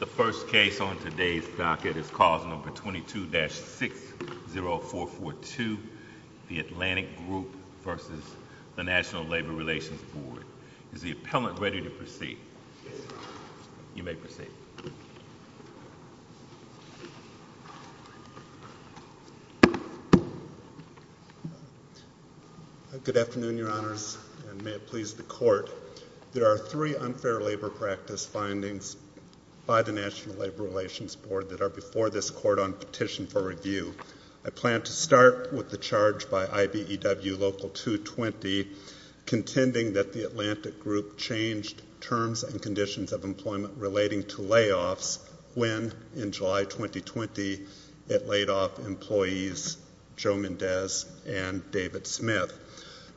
The first case on today's docket is Clause 22-60442, the Atlantic Group v. NLRB. Is the appellant ready to proceed? Yes, Your Honor. You may proceed. Good afternoon, Your Honors, and may it please the Court. There are three unfair labor practice findings by the National Labor Relations Board that are before this Court on petition for review. I plan to start with the charge by IBEW Local 220 contending that the Atlantic Group changed terms and conditions of employment relating to layoffs when, in July 2020, it laid off employees Joe Mendez and David Smith.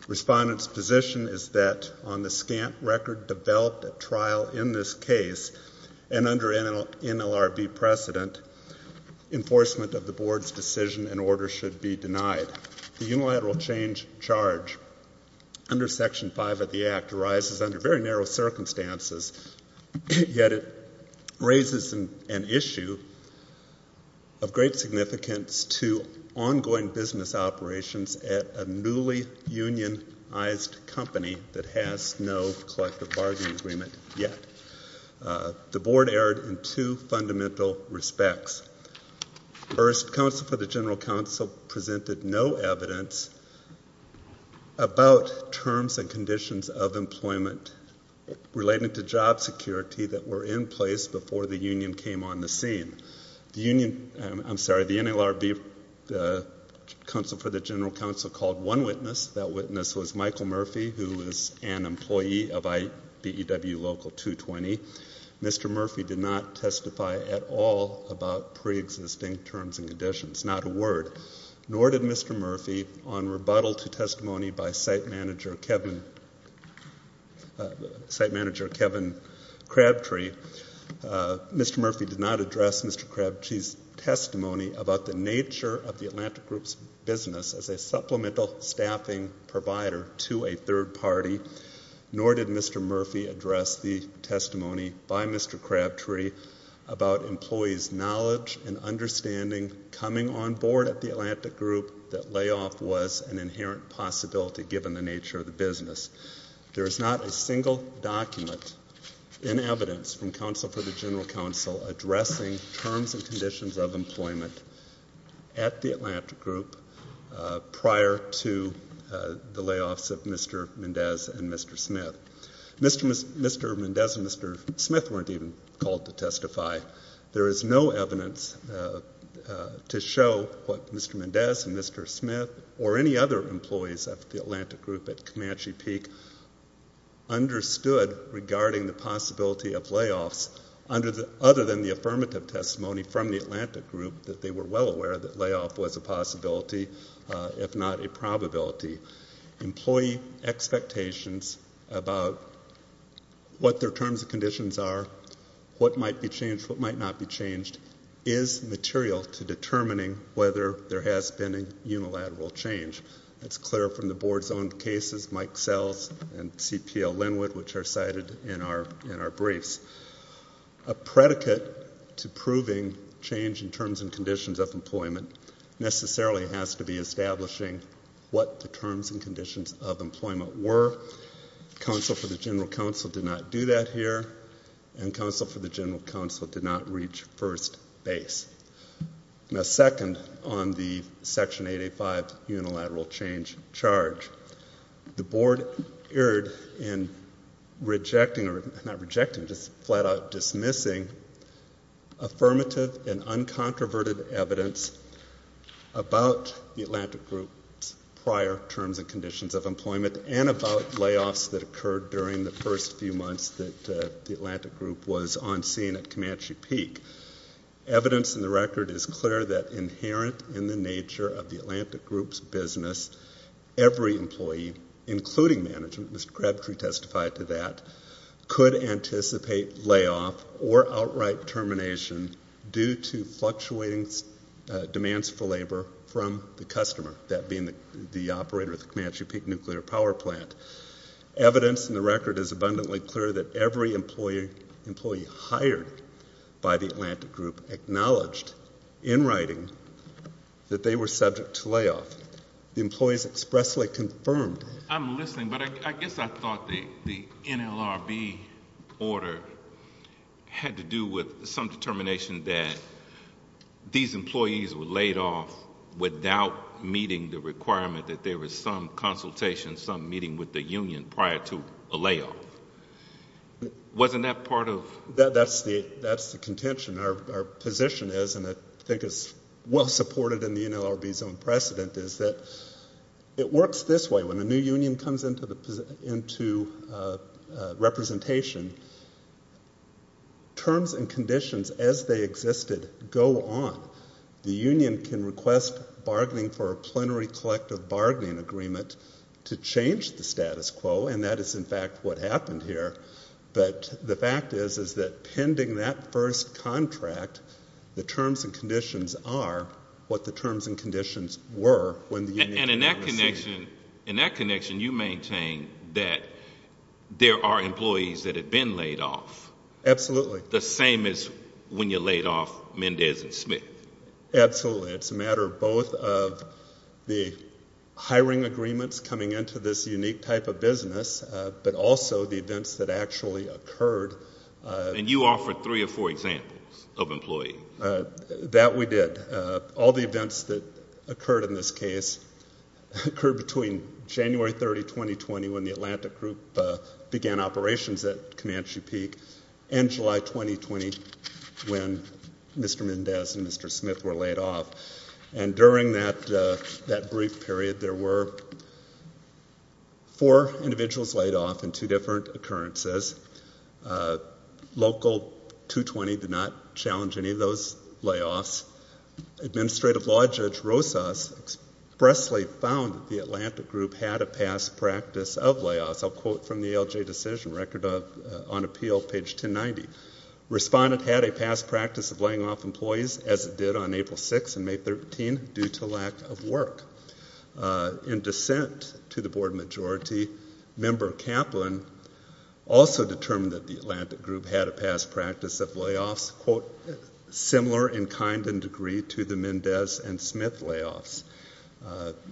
Respondents' position is that on the scant record developed at trial in this case and under NLRB precedent, enforcement of the Board's decision and order should be denied. The unilateral change charge under Section 5 of the Act arises under very narrow circumstances, yet it raises an issue of great significance to ongoing business operations at a newly unionized company that has no collective bargaining agreement yet. The Board erred in two fundamental respects. First, Counsel for the General Counsel presented no evidence about terms and conditions of employment relating to job security that were in place before the union came on the scene. The union, I'm sorry, the NLRB Counsel for the General Counsel called one witness. That witness was Michael Murphy, who is an employee of IBEW Local 220. Mr. Murphy did not testify at all about preexisting terms and conditions, not a word, nor did Mr. Murphy on rebuttal to testimony by site manager Kevin Crabtree. Mr. Murphy did not address Mr. Crabtree's testimony about the nature of the Atlantic Group's business as a supplemental staffing provider to a third party, nor did Mr. Murphy address the testimony by Mr. Crabtree about employees' knowledge and understanding coming on board at the Atlantic Group that layoff was an inherent possibility, given the nature of the business. There is not a single document in evidence from Counsel for the General Counsel addressing terms at the Atlantic Group prior to the layoffs of Mr. Mendez and Mr. Smith. Mr. Mendez and Mr. Smith weren't even called to testify. There is no evidence to show what Mr. Mendez and Mr. Smith or any other employees of the Atlantic Group at Comanche Peak understood regarding the possibility of layoffs, other than the affirmative testimony from the Atlantic Group that they were well aware that layoff was a possibility, if not a probability. Employee expectations about what their terms and conditions are, what might be changed, what might not be changed, is material to determining whether there has been a unilateral change. That's clear from the board's own cases, Mike Sells and CPL Linwood, which are cited in our briefs. A predicate to proving change in terms and conditions of employment necessarily has to be establishing what the terms and conditions of employment were. Counsel for the General Counsel did not do that here, and Counsel for the General Counsel did not reach first base. Now, second on the Section 885 unilateral change charge, the board erred in rejecting or not rejecting, just flat out dismissing affirmative and uncontroverted evidence about the Atlantic Group's prior terms and conditions of employment and about layoffs that occurred during the first few months that the Atlantic Group was on scene at Comanche Peak. Evidence in the record is clear that inherent in the nature of the Atlantic Group's business, every employee, including management, Mr. Crabtree testified to that, could anticipate layoff or outright termination due to fluctuating demands for labor from the customer, that being the operator of the Comanche Peak Nuclear Power Plant. Evidence in the record is abundantly clear that every employee hired by the Atlantic Group acknowledged in writing that they were subject to layoff. The employees expressly confirmed. I'm listening, but I guess I thought the NLRB order had to do with some determination that these employees were laid off without meeting the requirement that there was some consultation, some meeting with the union prior to a layoff. Wasn't that part of? That's the contention. Our position is, and I think it's well supported in the NLRB's own precedent, is that it works this way. When a new union comes into representation, terms and conditions as they existed go on. The union can request bargaining for a plenary collective bargaining agreement to change the status quo, and that is, in fact, what happened here. But the fact is that pending that first contract, the terms and conditions are what the terms and conditions were. And in that connection, you maintain that there are employees that have been laid off. Absolutely. The same as when you laid off Mendez and Smith. Absolutely. It's a matter of both of the hiring agreements coming into this unique type of business, but also the events that actually occurred. And you offered three or four examples of employees. That we did. All the events that occurred in this case occurred between January 30, 2020, when the Atlantic Group began operations at Comanche Peak, and July 2020, when Mr. Mendez and Mr. Smith were laid off. And during that brief period, there were four individuals laid off in two different occurrences. Local 220 did not challenge any of those layoffs. Administrative Law Judge Rosas expressly found that the Atlantic Group had a past practice of layoffs. I'll quote from the ALJ decision record on appeal, page 1090. Respondent had a past practice of laying off employees, as it did on April 6 and May 13, due to lack of work. In dissent to the board majority, Member Kaplan also determined that the Atlantic Group had a past practice of layoffs, quote, similar in kind and degree to the Mendez and Smith layoffs.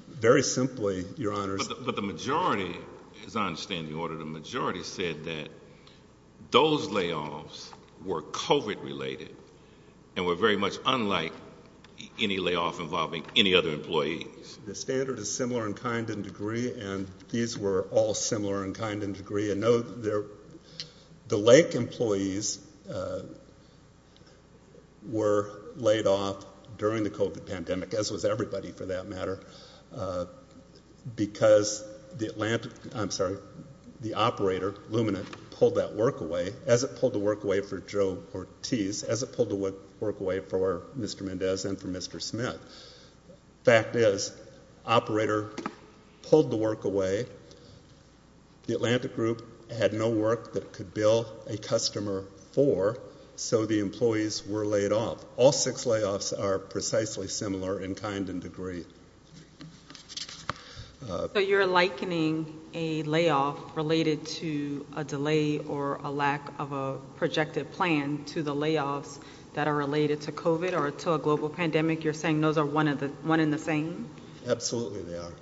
Very simply, Your Honors. But the majority, as I understand the order, the majority said that those layoffs were COVID-related and were very much unlike any layoff involving any other employees. The standard is similar in kind and degree, and these were all similar in kind and degree. The Lake employees were laid off during the COVID pandemic, as was everybody for that matter, because the operator, Lumina, pulled that work away, as it pulled the work away for Joe Ortiz, as it pulled the work away for Mr. Mendez and for Mr. Smith. Fact is, operator pulled the work away. The Atlantic Group had no work that could bill a customer for, so the employees were laid off. All six layoffs are precisely similar in kind and degree. So you're likening a layoff related to a delay or a lack of a projected plan to the layoffs that are related to COVID or to a global pandemic, you're saying those are one and the same? Absolutely they are.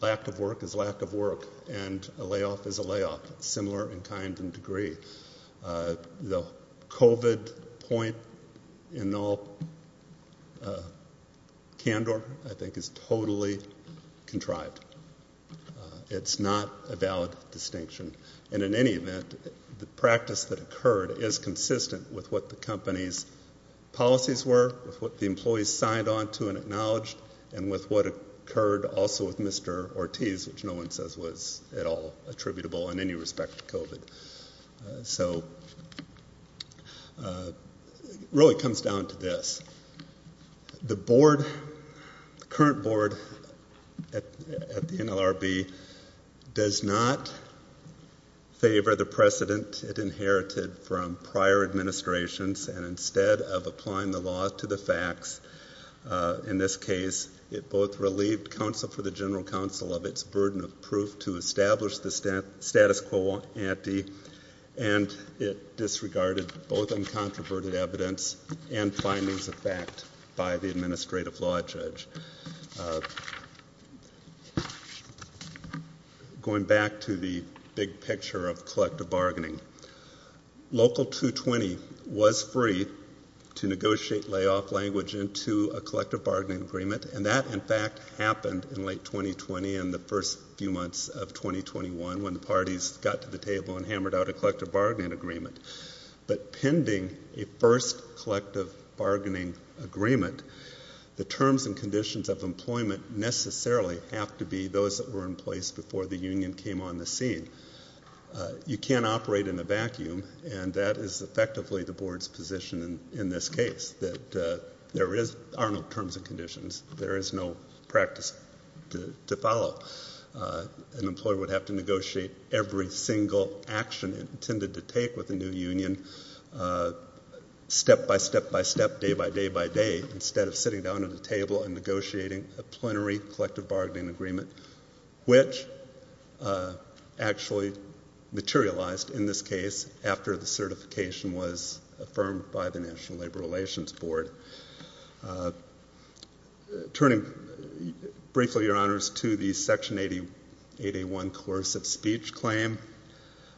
Lack of work is lack of work, and a layoff is a layoff, similar in kind and degree. The COVID point in all candor, I think, is totally contrived. It's not a valid distinction. And in any event, the practice that occurred is consistent with what the company's policies were, with what the employees signed on to and acknowledged, and with what occurred also with Mr. Ortiz, which no one says was at all attributable in any respect to COVID. It really comes down to this. The current board at the NLRB does not favor the precedent it inherited from prior administrations, and instead of applying the law to the facts in this case, it both relieved counsel for the general counsel of its burden of proof to establish the status quo ante, and it disregarded both uncontroverted evidence and findings of fact by the administrative law judge. Going back to the big picture of collective bargaining, Local 220 was free to negotiate layoff language into a collective bargaining agreement, and that, in fact, happened in late 2020 and the first few months of 2021 when the parties got to the table and hammered out a collective bargaining agreement. But pending a first collective bargaining agreement, the terms and conditions of employment necessarily have to be those that were in place before the union came on the scene. You can't operate in a vacuum, and that is effectively the board's position in this case, that there are no terms and conditions. There is no practice to follow. An employer would have to negotiate every single action it intended to take with a new union, step by step by step, day by day by day, instead of sitting down at a table and negotiating a plenary collective bargaining agreement, which actually materialized, in this case, after the certification was affirmed by the National Labor Relations Board. Turning briefly, Your Honors, to the Section 8A1 coercive speech claim,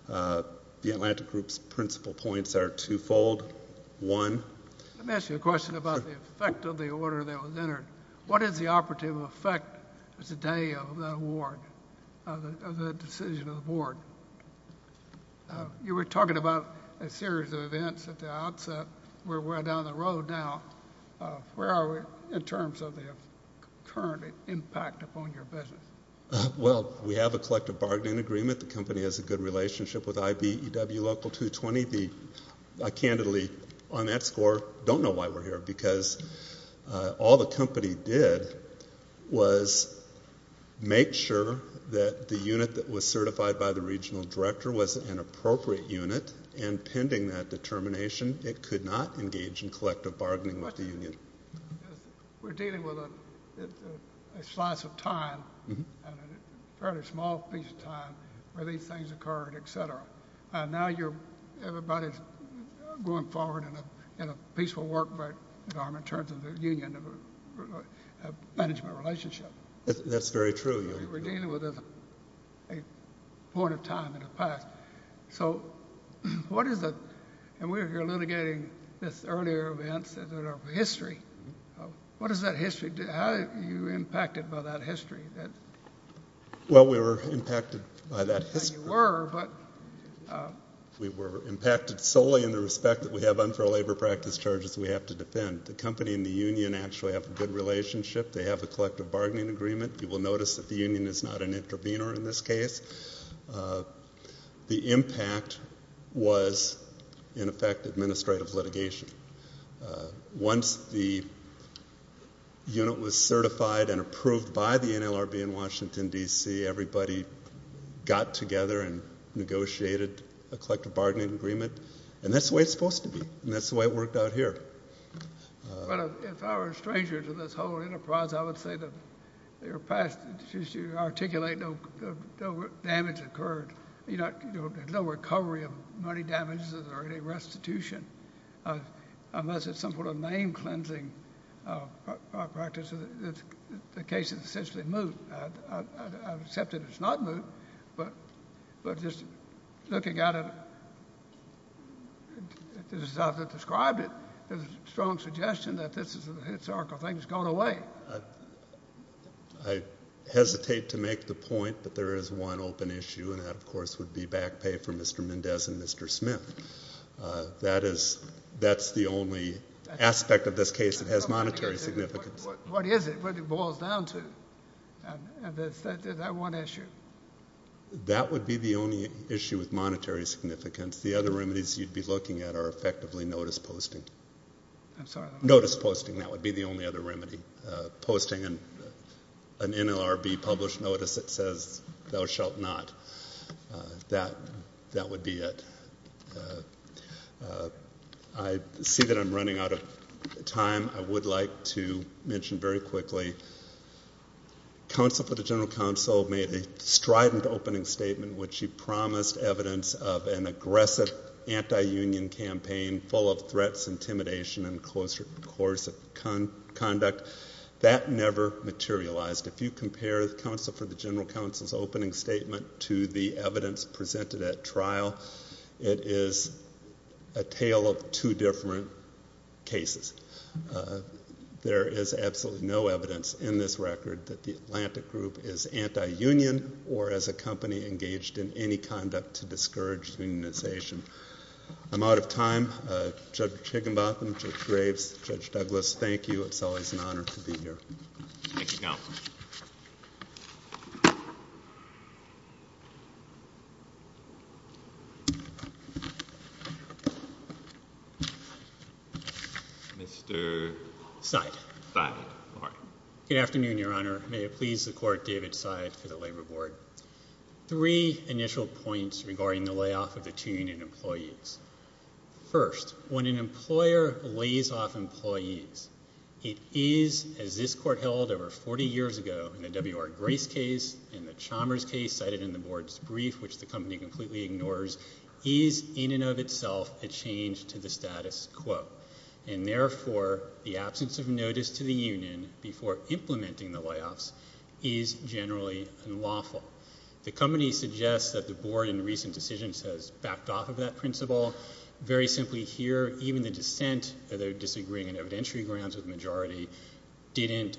the Atlantic Group's principal points are twofold. One... Let me ask you a question about the effect of the order that was entered. What is the operative effect today of that award, of the decision of the board? You were talking about a series of events at the outset. We're well down the road now. Where are we in terms of the current impact upon your business? Well, we have a collective bargaining agreement. The company has a good relationship with IBEW Local 220. I candidly, on that score, don't know why we're here, because all the company did was make sure that the unit that was certified by the regional director was an appropriate unit, and pending that determination, it could not engage in collective bargaining with the union. We're dealing with a slice of time, a fairly small piece of time, where these things occurred, et cetera. Now everybody's going forward in a peaceful work environment in terms of the union management relationship. That's very true. We're dealing with a point of time in the past. So what is the... And we were here litigating this earlier event, history. What does that history do? How are you impacted by that history? Well, we were impacted by that history. We were impacted solely in the respect that we have unfair labor practice charges we have to defend. The company and the union actually have a good relationship. They have a collective bargaining agreement. You will notice that the union is not an intervener in this case. The impact was, in effect, administrative litigation. Once the unit was certified and approved by the NLRB in Washington, D.C., everybody got together and negotiated a collective bargaining agreement. And that's the way it's supposed to be. And that's the way it worked out here. If I were a stranger to this whole enterprise, I would say that they were passed to articulate no damage occurred. There's no recovery of money damages or any restitution. Unless it's some sort of name-cleansing practice, the cases essentially move. I would accept that it's not moved, but just looking at it as I've described it, there's a strong suggestion that this is a historical thing that's gone away. I hesitate to make the point, but there is one open issue, and that, of course, would be back pay for Mr. Mendez and Mr. Smith. That's the only aspect of this case that has monetary significance. What is it? What it boils down to? Is that one issue? That would be the only issue with monetary significance. The other remedies you'd be looking at are effectively notice posting. Notice posting, that would be the only other remedy. Posting an NLRB-published notice that says thou shalt not. That would be it. I see that I'm running out of time. I would like to mention very quickly, counsel for the general counsel made a strident opening statement when she promised evidence of an aggressive anti-union campaign full of threats, intimidation, and coercive conduct. That never materialized. If you compare counsel for the general counsel's opening statement to the evidence presented at trial, it is a tale of two different cases. There is absolutely no evidence in this record that the Atlantic Group is anti-union or as a company engaged in any conduct to discourage unionization. I'm out of time. Judge Higginbotham, Judge Graves, Judge Douglas, thank you. It's always an honor to be here. Thank you, counsel. Mr. Seid. Good afternoon, Your Honor. May it please the Court, David Seid for the Labor Board. Three initial points regarding the layoff of the two-unit employees. First, when an employer lays off employees, it is, as this Court held over 40 years ago in the W.R. Grace case and the Chalmers case cited in the Board's brief, which the company completely ignores, is in and of itself a change to the status quo, and therefore the absence of notice to the union before implementing the layoffs is generally unlawful. The company suggests that the Board in recent decisions has backed off of that principle. Very simply here, even the dissent, the disagreeing and evidentiary grounds of the majority, didn't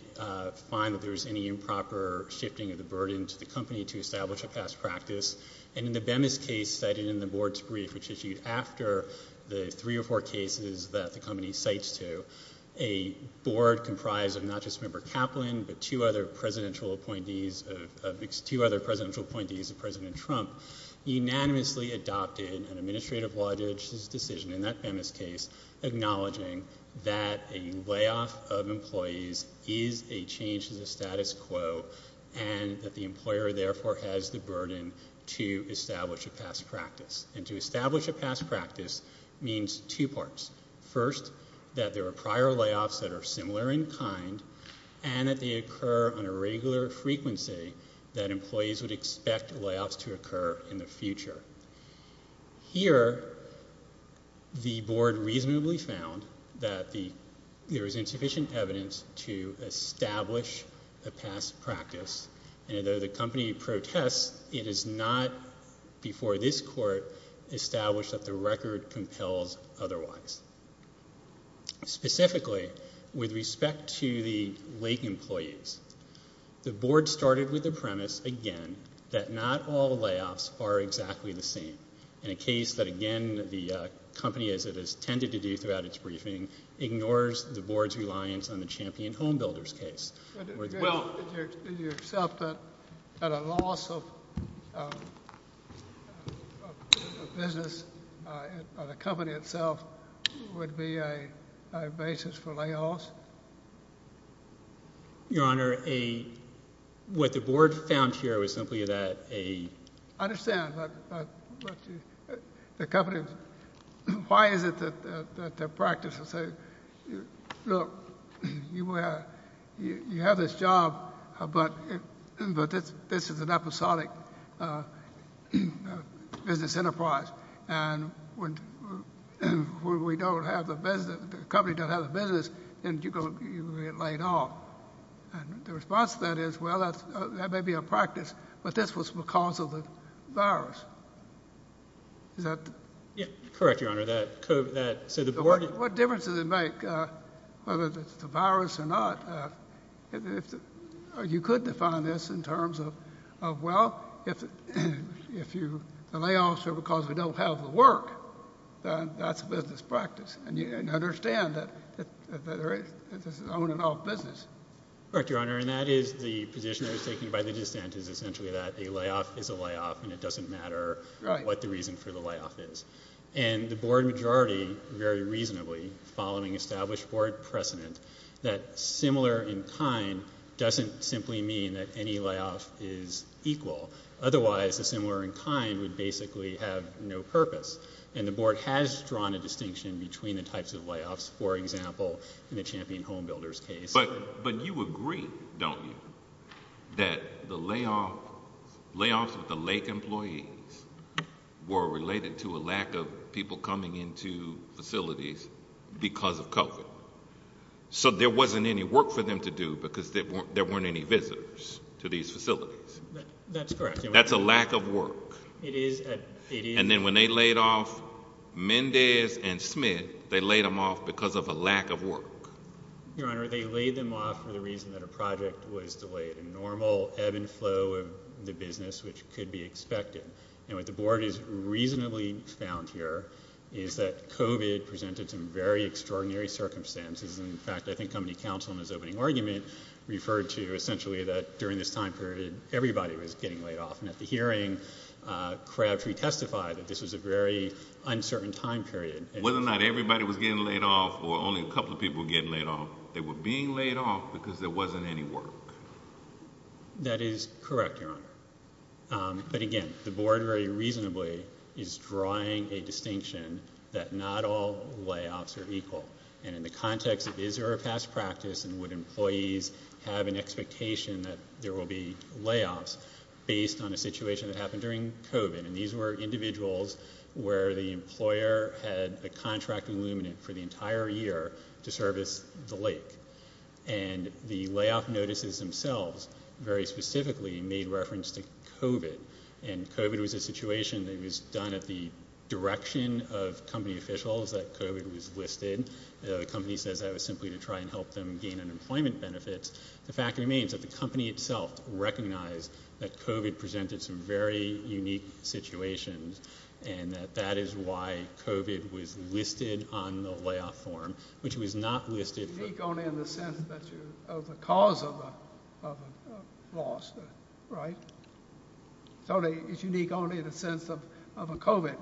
find that there was any improper shifting of the burden to the company to establish a past practice. And in the Bemis case cited in the Board's brief, which issued after the three or four cases that the company cites to, a Board comprised of not just Member Kaplan but two other presidential appointees of President Trump unanimously adopted an administrative law judge's decision in that Bemis case acknowledging that a layoff of employees is a change to the status quo and that the employer therefore has the burden to establish a past practice. And to establish a past practice means two parts. First, that there are prior layoffs that are similar in kind and that they occur on a regular frequency Here, the Board reasonably found that there is insufficient evidence to establish a past practice and although the company protests, it is not before this Court established that the record compels otherwise. Specifically, with respect to the Lake employees, the Board started with the premise, again, that not all layoffs are exactly the same. In a case that, again, the company, as it has tended to do throughout its briefing, ignores the Board's reliance on the Champion Home Builders case. Well, did you accept that a loss of business, of the company itself, would be a basis for layoffs? Your Honor, what the Board found here was simply that a... I understand, but the company... Why is it that the practice will say, look, you have this job, but this is an episodic business enterprise and when we don't have the business, the company doesn't have the business, then you get laid off. The response to that is, well, that may be a practice, but this was because of the virus. Is that... Correct, Your Honor. What difference does it make whether it's the virus or not? You could define this in terms of, well, if the layoffs are because we don't have the work, then that's a business practice. And you understand that this is an on-and-off business. Correct, Your Honor. And that is the position I was taking by the dissent, is essentially that a layoff is a layoff and it doesn't matter what the reason for the layoff is. And the Board majority, very reasonably, following established Board precedent, that similar in kind doesn't simply mean that any layoff is equal. Otherwise, the similar in kind would basically have no purpose. And the Board has drawn a distinction between the types of layoffs, for example, in the Champion Home Builders case. But you agree, don't you, that the layoffs with the Lake employees were related to a lack of people coming into facilities because of COVID. So there wasn't any work for them to do because there weren't any visitors to these facilities. That's correct. That's a lack of work. It is. And then when they laid off Mendez and Smith, they laid them off because of a lack of work. Your Honor, they laid them off for the reason that a project was delayed. A normal ebb and flow of the business, which could be expected. And what the Board has reasonably found here is that COVID presented some very extraordinary circumstances. In fact, I think company counsel in his opening argument referred to essentially that during this time period, everybody was getting laid off. And at the hearing, Crabtree testified that this was a very uncertain time period. Whether or not everybody was getting laid off or only a couple of people were getting laid off, they were being laid off because there wasn't any work. That is correct, Your Honor. But again, the Board very reasonably is drawing a distinction that not all layoffs are equal. And in the context of is there a past practice and would employees have an expectation that there will be layoffs based on a situation that happened during COVID? And these were individuals where the employer had a contract illuminate for the entire year to service the lake. And the layoff notices themselves very specifically made reference to COVID. And COVID was a situation that was done at the direction of company officials that COVID was listed. The company says that was simply to try and help them gain unemployment benefits. The fact remains that the company itself recognized that COVID presented some very unique situations and that that is why COVID was listed on the layoff form, which it was not listed for. It's unique only in the sense of the cause of a loss, right? It's unique only in the sense of a COVID.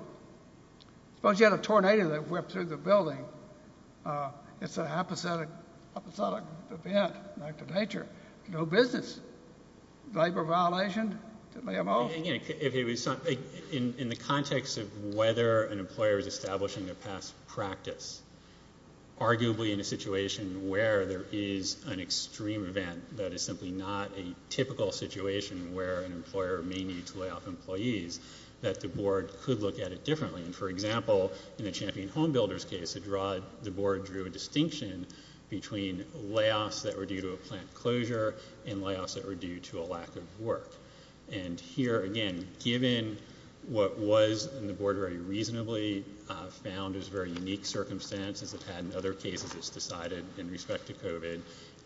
Suppose you had a tornado that whipped through the building. It's an apathetic event by nature. No business. Labor violation, layoff. In the context of whether an employer is establishing a past practice, arguably in a situation where there is an extreme event that is simply not a typical situation where an employer may need to layoff employees, that the board could look at it differently. For example, in the Champion Home Builders case, the board drew a distinction between layoffs that were due to a plant closure and layoffs that were due to a lack of work. And here, again, given what was in the board very reasonably found as very unique circumstances it had in other cases it's decided in respect to COVID,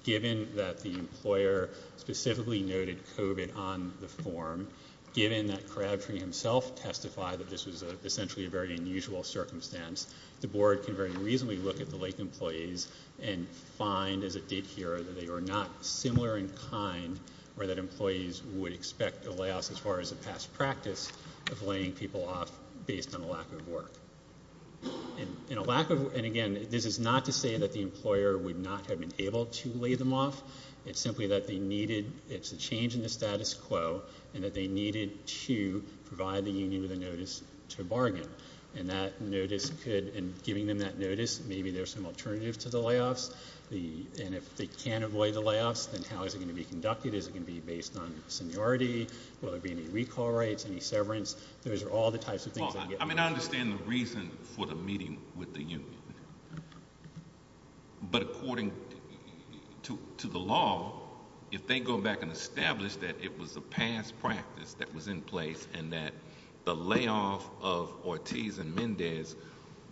given that the employer specifically noted COVID on the form, given that Crabtree himself testified that this was essentially a very unusual circumstance, the board can very reasonably look at the late employees and find as it did here that they were not similar in kind or that employees would expect a layoff as far as a past practice of laying people off based on a lack of work. And again, this is not to say that the employer would not have been able to lay them off. It's simply that they needed, it's a change in the status quo, and that they needed to provide the union with a notice to bargain. And that notice could, in giving them that notice, maybe there's some alternative to the layoffs. And if they can't avoid the layoffs, then how is it going to be conducted? Is it going to be based on seniority? Will there be any recall rates, any severance? Those are all the types of things that get brought up. But according to the law, if they go back and establish that it was a past practice that was in place and that the layoff of Ortiz and Mendez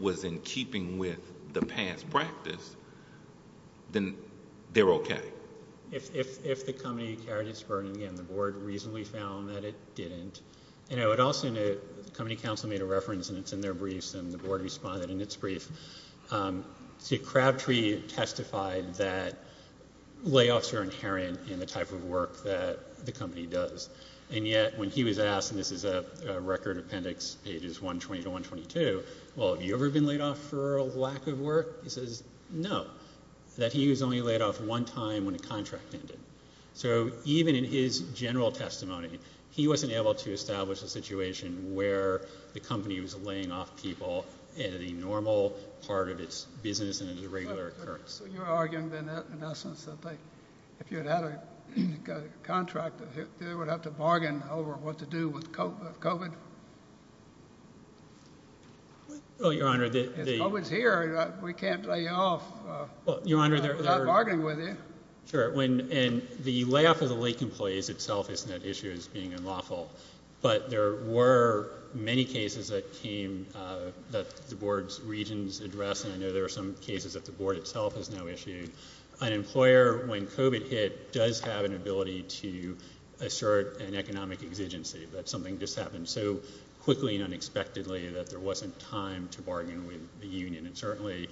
was in keeping with the past practice, then they're okay. If the company carried its burden, again, the board reasonably found that it didn't. And I would also note, the company counsel made a reference, and it's in their briefs, and the board responded in its brief. See, Crabtree testified that layoffs are inherent in the type of work that the company does. And yet, when he was asked, and this is a record appendix, pages 120 to 122, well, have you ever been laid off for a lack of work? He says no, that he was only laid off one time when a contract ended. So even in his general testimony, he wasn't able to establish a situation where the company was laying off people in a normal part of its business and as a regular occurrence. So you're arguing, in essence, that if you had had a contract, they would have to bargain over what to do with COVID? Well, Your Honor, the— If COVID's here, we can't lay you off without bargaining with you. Sure. And the layoff of the Lake employees itself isn't an issue as being unlawful, but there were many cases that came that the board's regions addressed, and I know there were some cases that the board itself has now issued. An employer, when COVID hit, does have an ability to assert an economic exigency, that something just happened so quickly and unexpectedly that there wasn't time to bargain with the union. And certainly,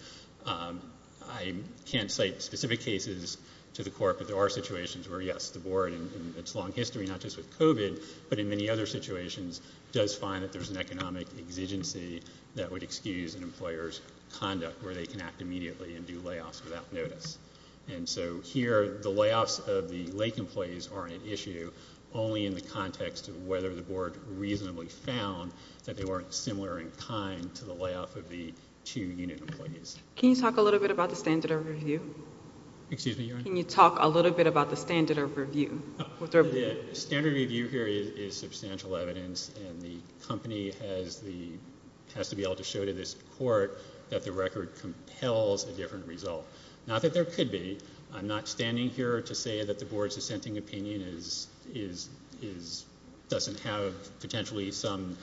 I can't cite specific cases to the court, but there are situations where, yes, the board, in its long history, not just with COVID, but in many other situations, does find that there's an economic exigency that would excuse an employer's conduct where they can act immediately and do layoffs without notice. And so here, the layoffs of the Lake employees aren't an issue, only in the context of whether the board reasonably found that they weren't similar in kind to the layoff of the two union employees. Can you talk a little bit about the standard of review? Excuse me, Your Honor? Can you talk a little bit about the standard of review? The standard of review here is substantial evidence, and the company has to be able to show to this court that the record compels a different result. Not that there could be. I'm not standing here to say that the board's dissenting opinion doesn't have potentially some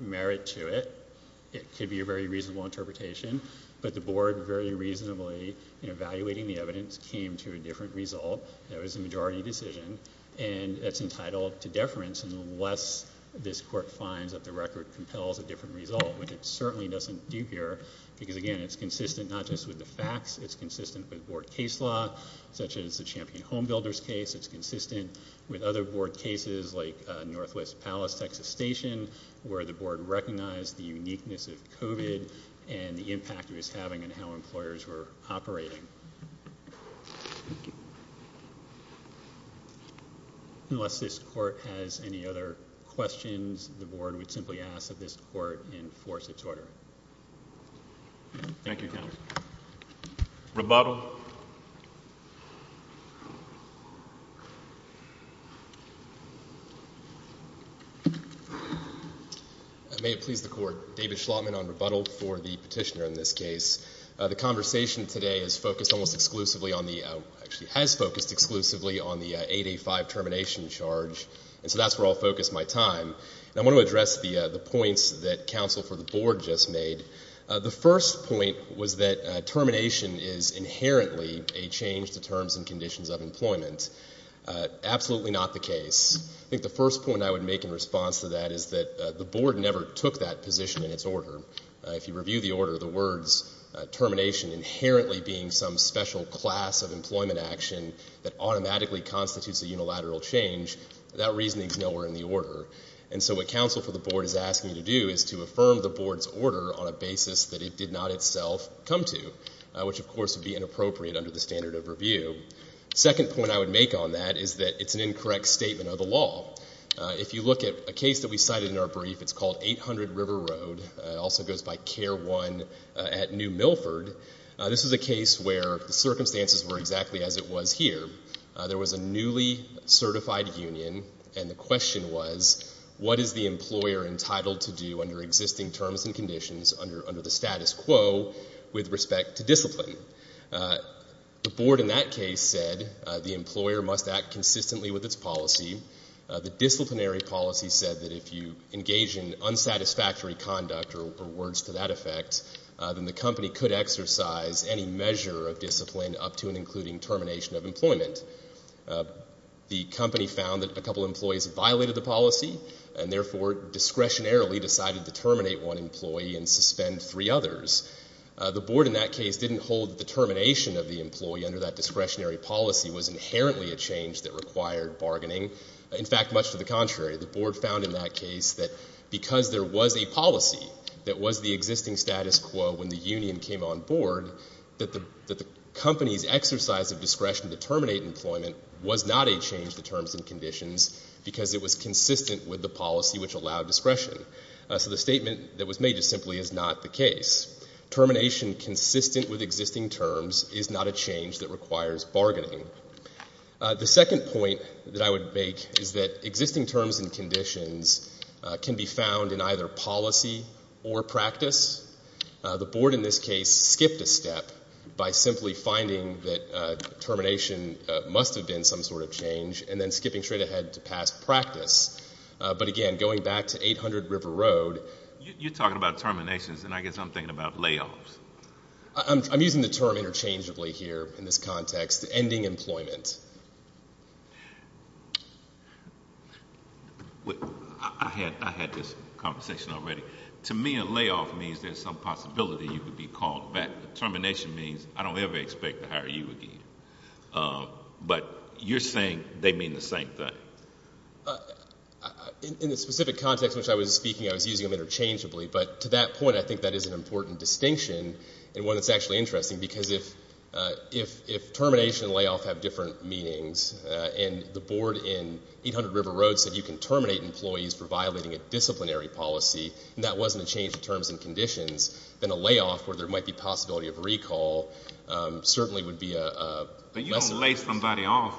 merit to it. It could be a very reasonable interpretation. But the board very reasonably, in evaluating the evidence, came to a different result. That was a majority decision, and that's entitled to deference, unless this court finds that the record compels a different result, which it certainly doesn't do here because, again, it's consistent not just with the facts. It's consistent with board case law, such as the Champion Home Builders case. It's consistent with other board cases like Northwest Palace, Texas Station, where the board recognized the uniqueness of COVID and the impact it was having on how employers were operating. Unless this court has any other questions, the board would simply ask that this court enforce its order. Thank you, counsel. Rebuttal. May it please the court. David Schlottman on rebuttal for the petitioner in this case. The conversation today is focused almost exclusively on the — actually has focused exclusively on the 8A5 termination charge. And so that's where I'll focus my time. And I want to address the points that counsel for the board just made. The first point was that termination is inherently a change to terms and conditions of employment. Absolutely not the case. I think the first point I would make in response to that is that the board never took that position in its order. If you review the order, the words termination inherently being some special class of employment action that automatically constitutes a unilateral change, that reasoning is nowhere in the order. And so what counsel for the board is asking you to do is to affirm the board's order on a basis that it did not itself come to, which, of course, would be inappropriate under the standard of review. The second point I would make on that is that it's an incorrect statement of the law. If you look at a case that we cited in our brief, it's called 800 River Road. It also goes by Care 1 at New Milford. This is a case where the circumstances were exactly as it was here. There was a newly certified union, and the question was, what is the employer entitled to do under existing terms and conditions under the status quo with respect to discipline? The board in that case said the employer must act consistently with its policy. The disciplinary policy said that if you engage in unsatisfactory conduct or words to that effect, then the company could exercise any measure of discipline up to and including termination of employment. The company found that a couple of employees violated the policy and therefore discretionarily decided to terminate one employee and suspend three others. The board in that case didn't hold the termination of the employee under that discretionary policy was inherently a change that required bargaining. In fact, much to the contrary, the board found in that case that because there was a policy that was the existing status quo when the union came on board, that the company's exercise of discretion to terminate employment was not a change to terms and conditions because it was consistent with the policy which allowed discretion. So the statement that was made just simply is not the case. Termination consistent with existing terms is not a change that requires bargaining. The second point that I would make is that existing terms and conditions can be found in either policy or practice. The board in this case skipped a step by simply finding that termination must have been some sort of change and then skipping straight ahead to past practice. But again, going back to 800 River Road. You're talking about terminations, and I guess I'm thinking about layoffs. I'm using the term interchangeably here in this context, ending employment. I had this conversation already. To me, a layoff means there's some possibility you could be called back. Termination means I don't ever expect to hire you again. But you're saying they mean the same thing. In the specific context in which I was speaking, I was using them interchangeably. But to that point, I think that is an important distinction and one that's actually interesting because if termination and layoff have different meanings, and the board in 800 River Road said you can terminate employees for violating a disciplinary policy and that wasn't a change in terms and conditions, then a layoff where there might be possibility of recall certainly would be a lesson. But you don't lay somebody off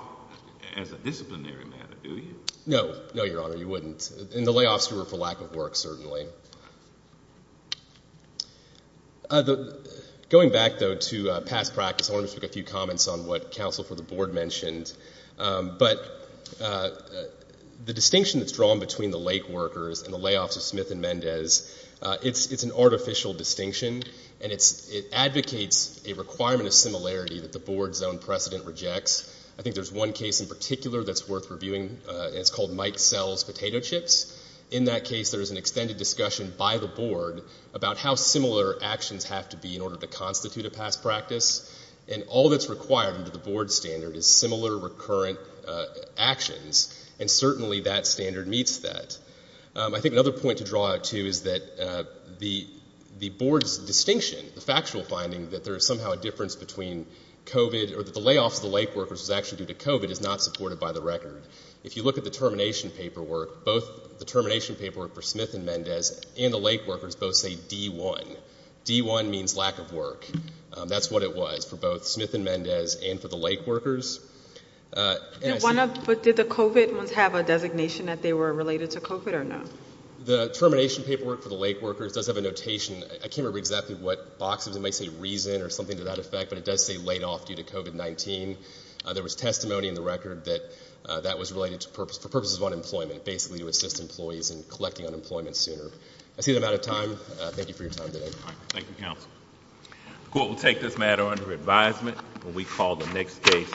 as a disciplinary matter, do you? No. No, Your Honor, you wouldn't. And the layoffs were for lack of work, certainly. Going back, though, to past practice, I want to make a few comments on what counsel for the board mentioned. But the distinction that's drawn between the lake workers and the layoffs of Smith and Mendez, it's an artificial distinction, and it advocates a requirement of similarity that the board's own precedent rejects. I think there's one case in particular that's worth reviewing, and it's called Mike sells potato chips. In that case, there is an extended discussion by the board about how similar actions have to be in order to constitute a past practice. And all that's required under the board standard is similar recurrent actions, and certainly that standard meets that. I think another point to draw to is that the board's distinction, the factual finding that there is somehow a difference between COVID or that the layoffs of the lake workers was actually due to COVID is not supported by the record. If you look at the termination paperwork, both the termination paperwork for Smith and Mendez and the lake workers both say D1. D1 means lack of work. That's what it was for both Smith and Mendez and for the lake workers. But did the COVID ones have a designation that they were related to COVID or no? The termination paperwork for the lake workers does have a notation. I can't remember exactly what boxes it might say reason or something to that effect, but it does say laid off due to COVID-19. There was testimony in the record that that was related for purposes of unemployment, basically to assist employees in collecting unemployment sooner. I see I'm out of time. Thank you for your time today. Thank you, counsel. The court will take this matter under advisement when we call the next case.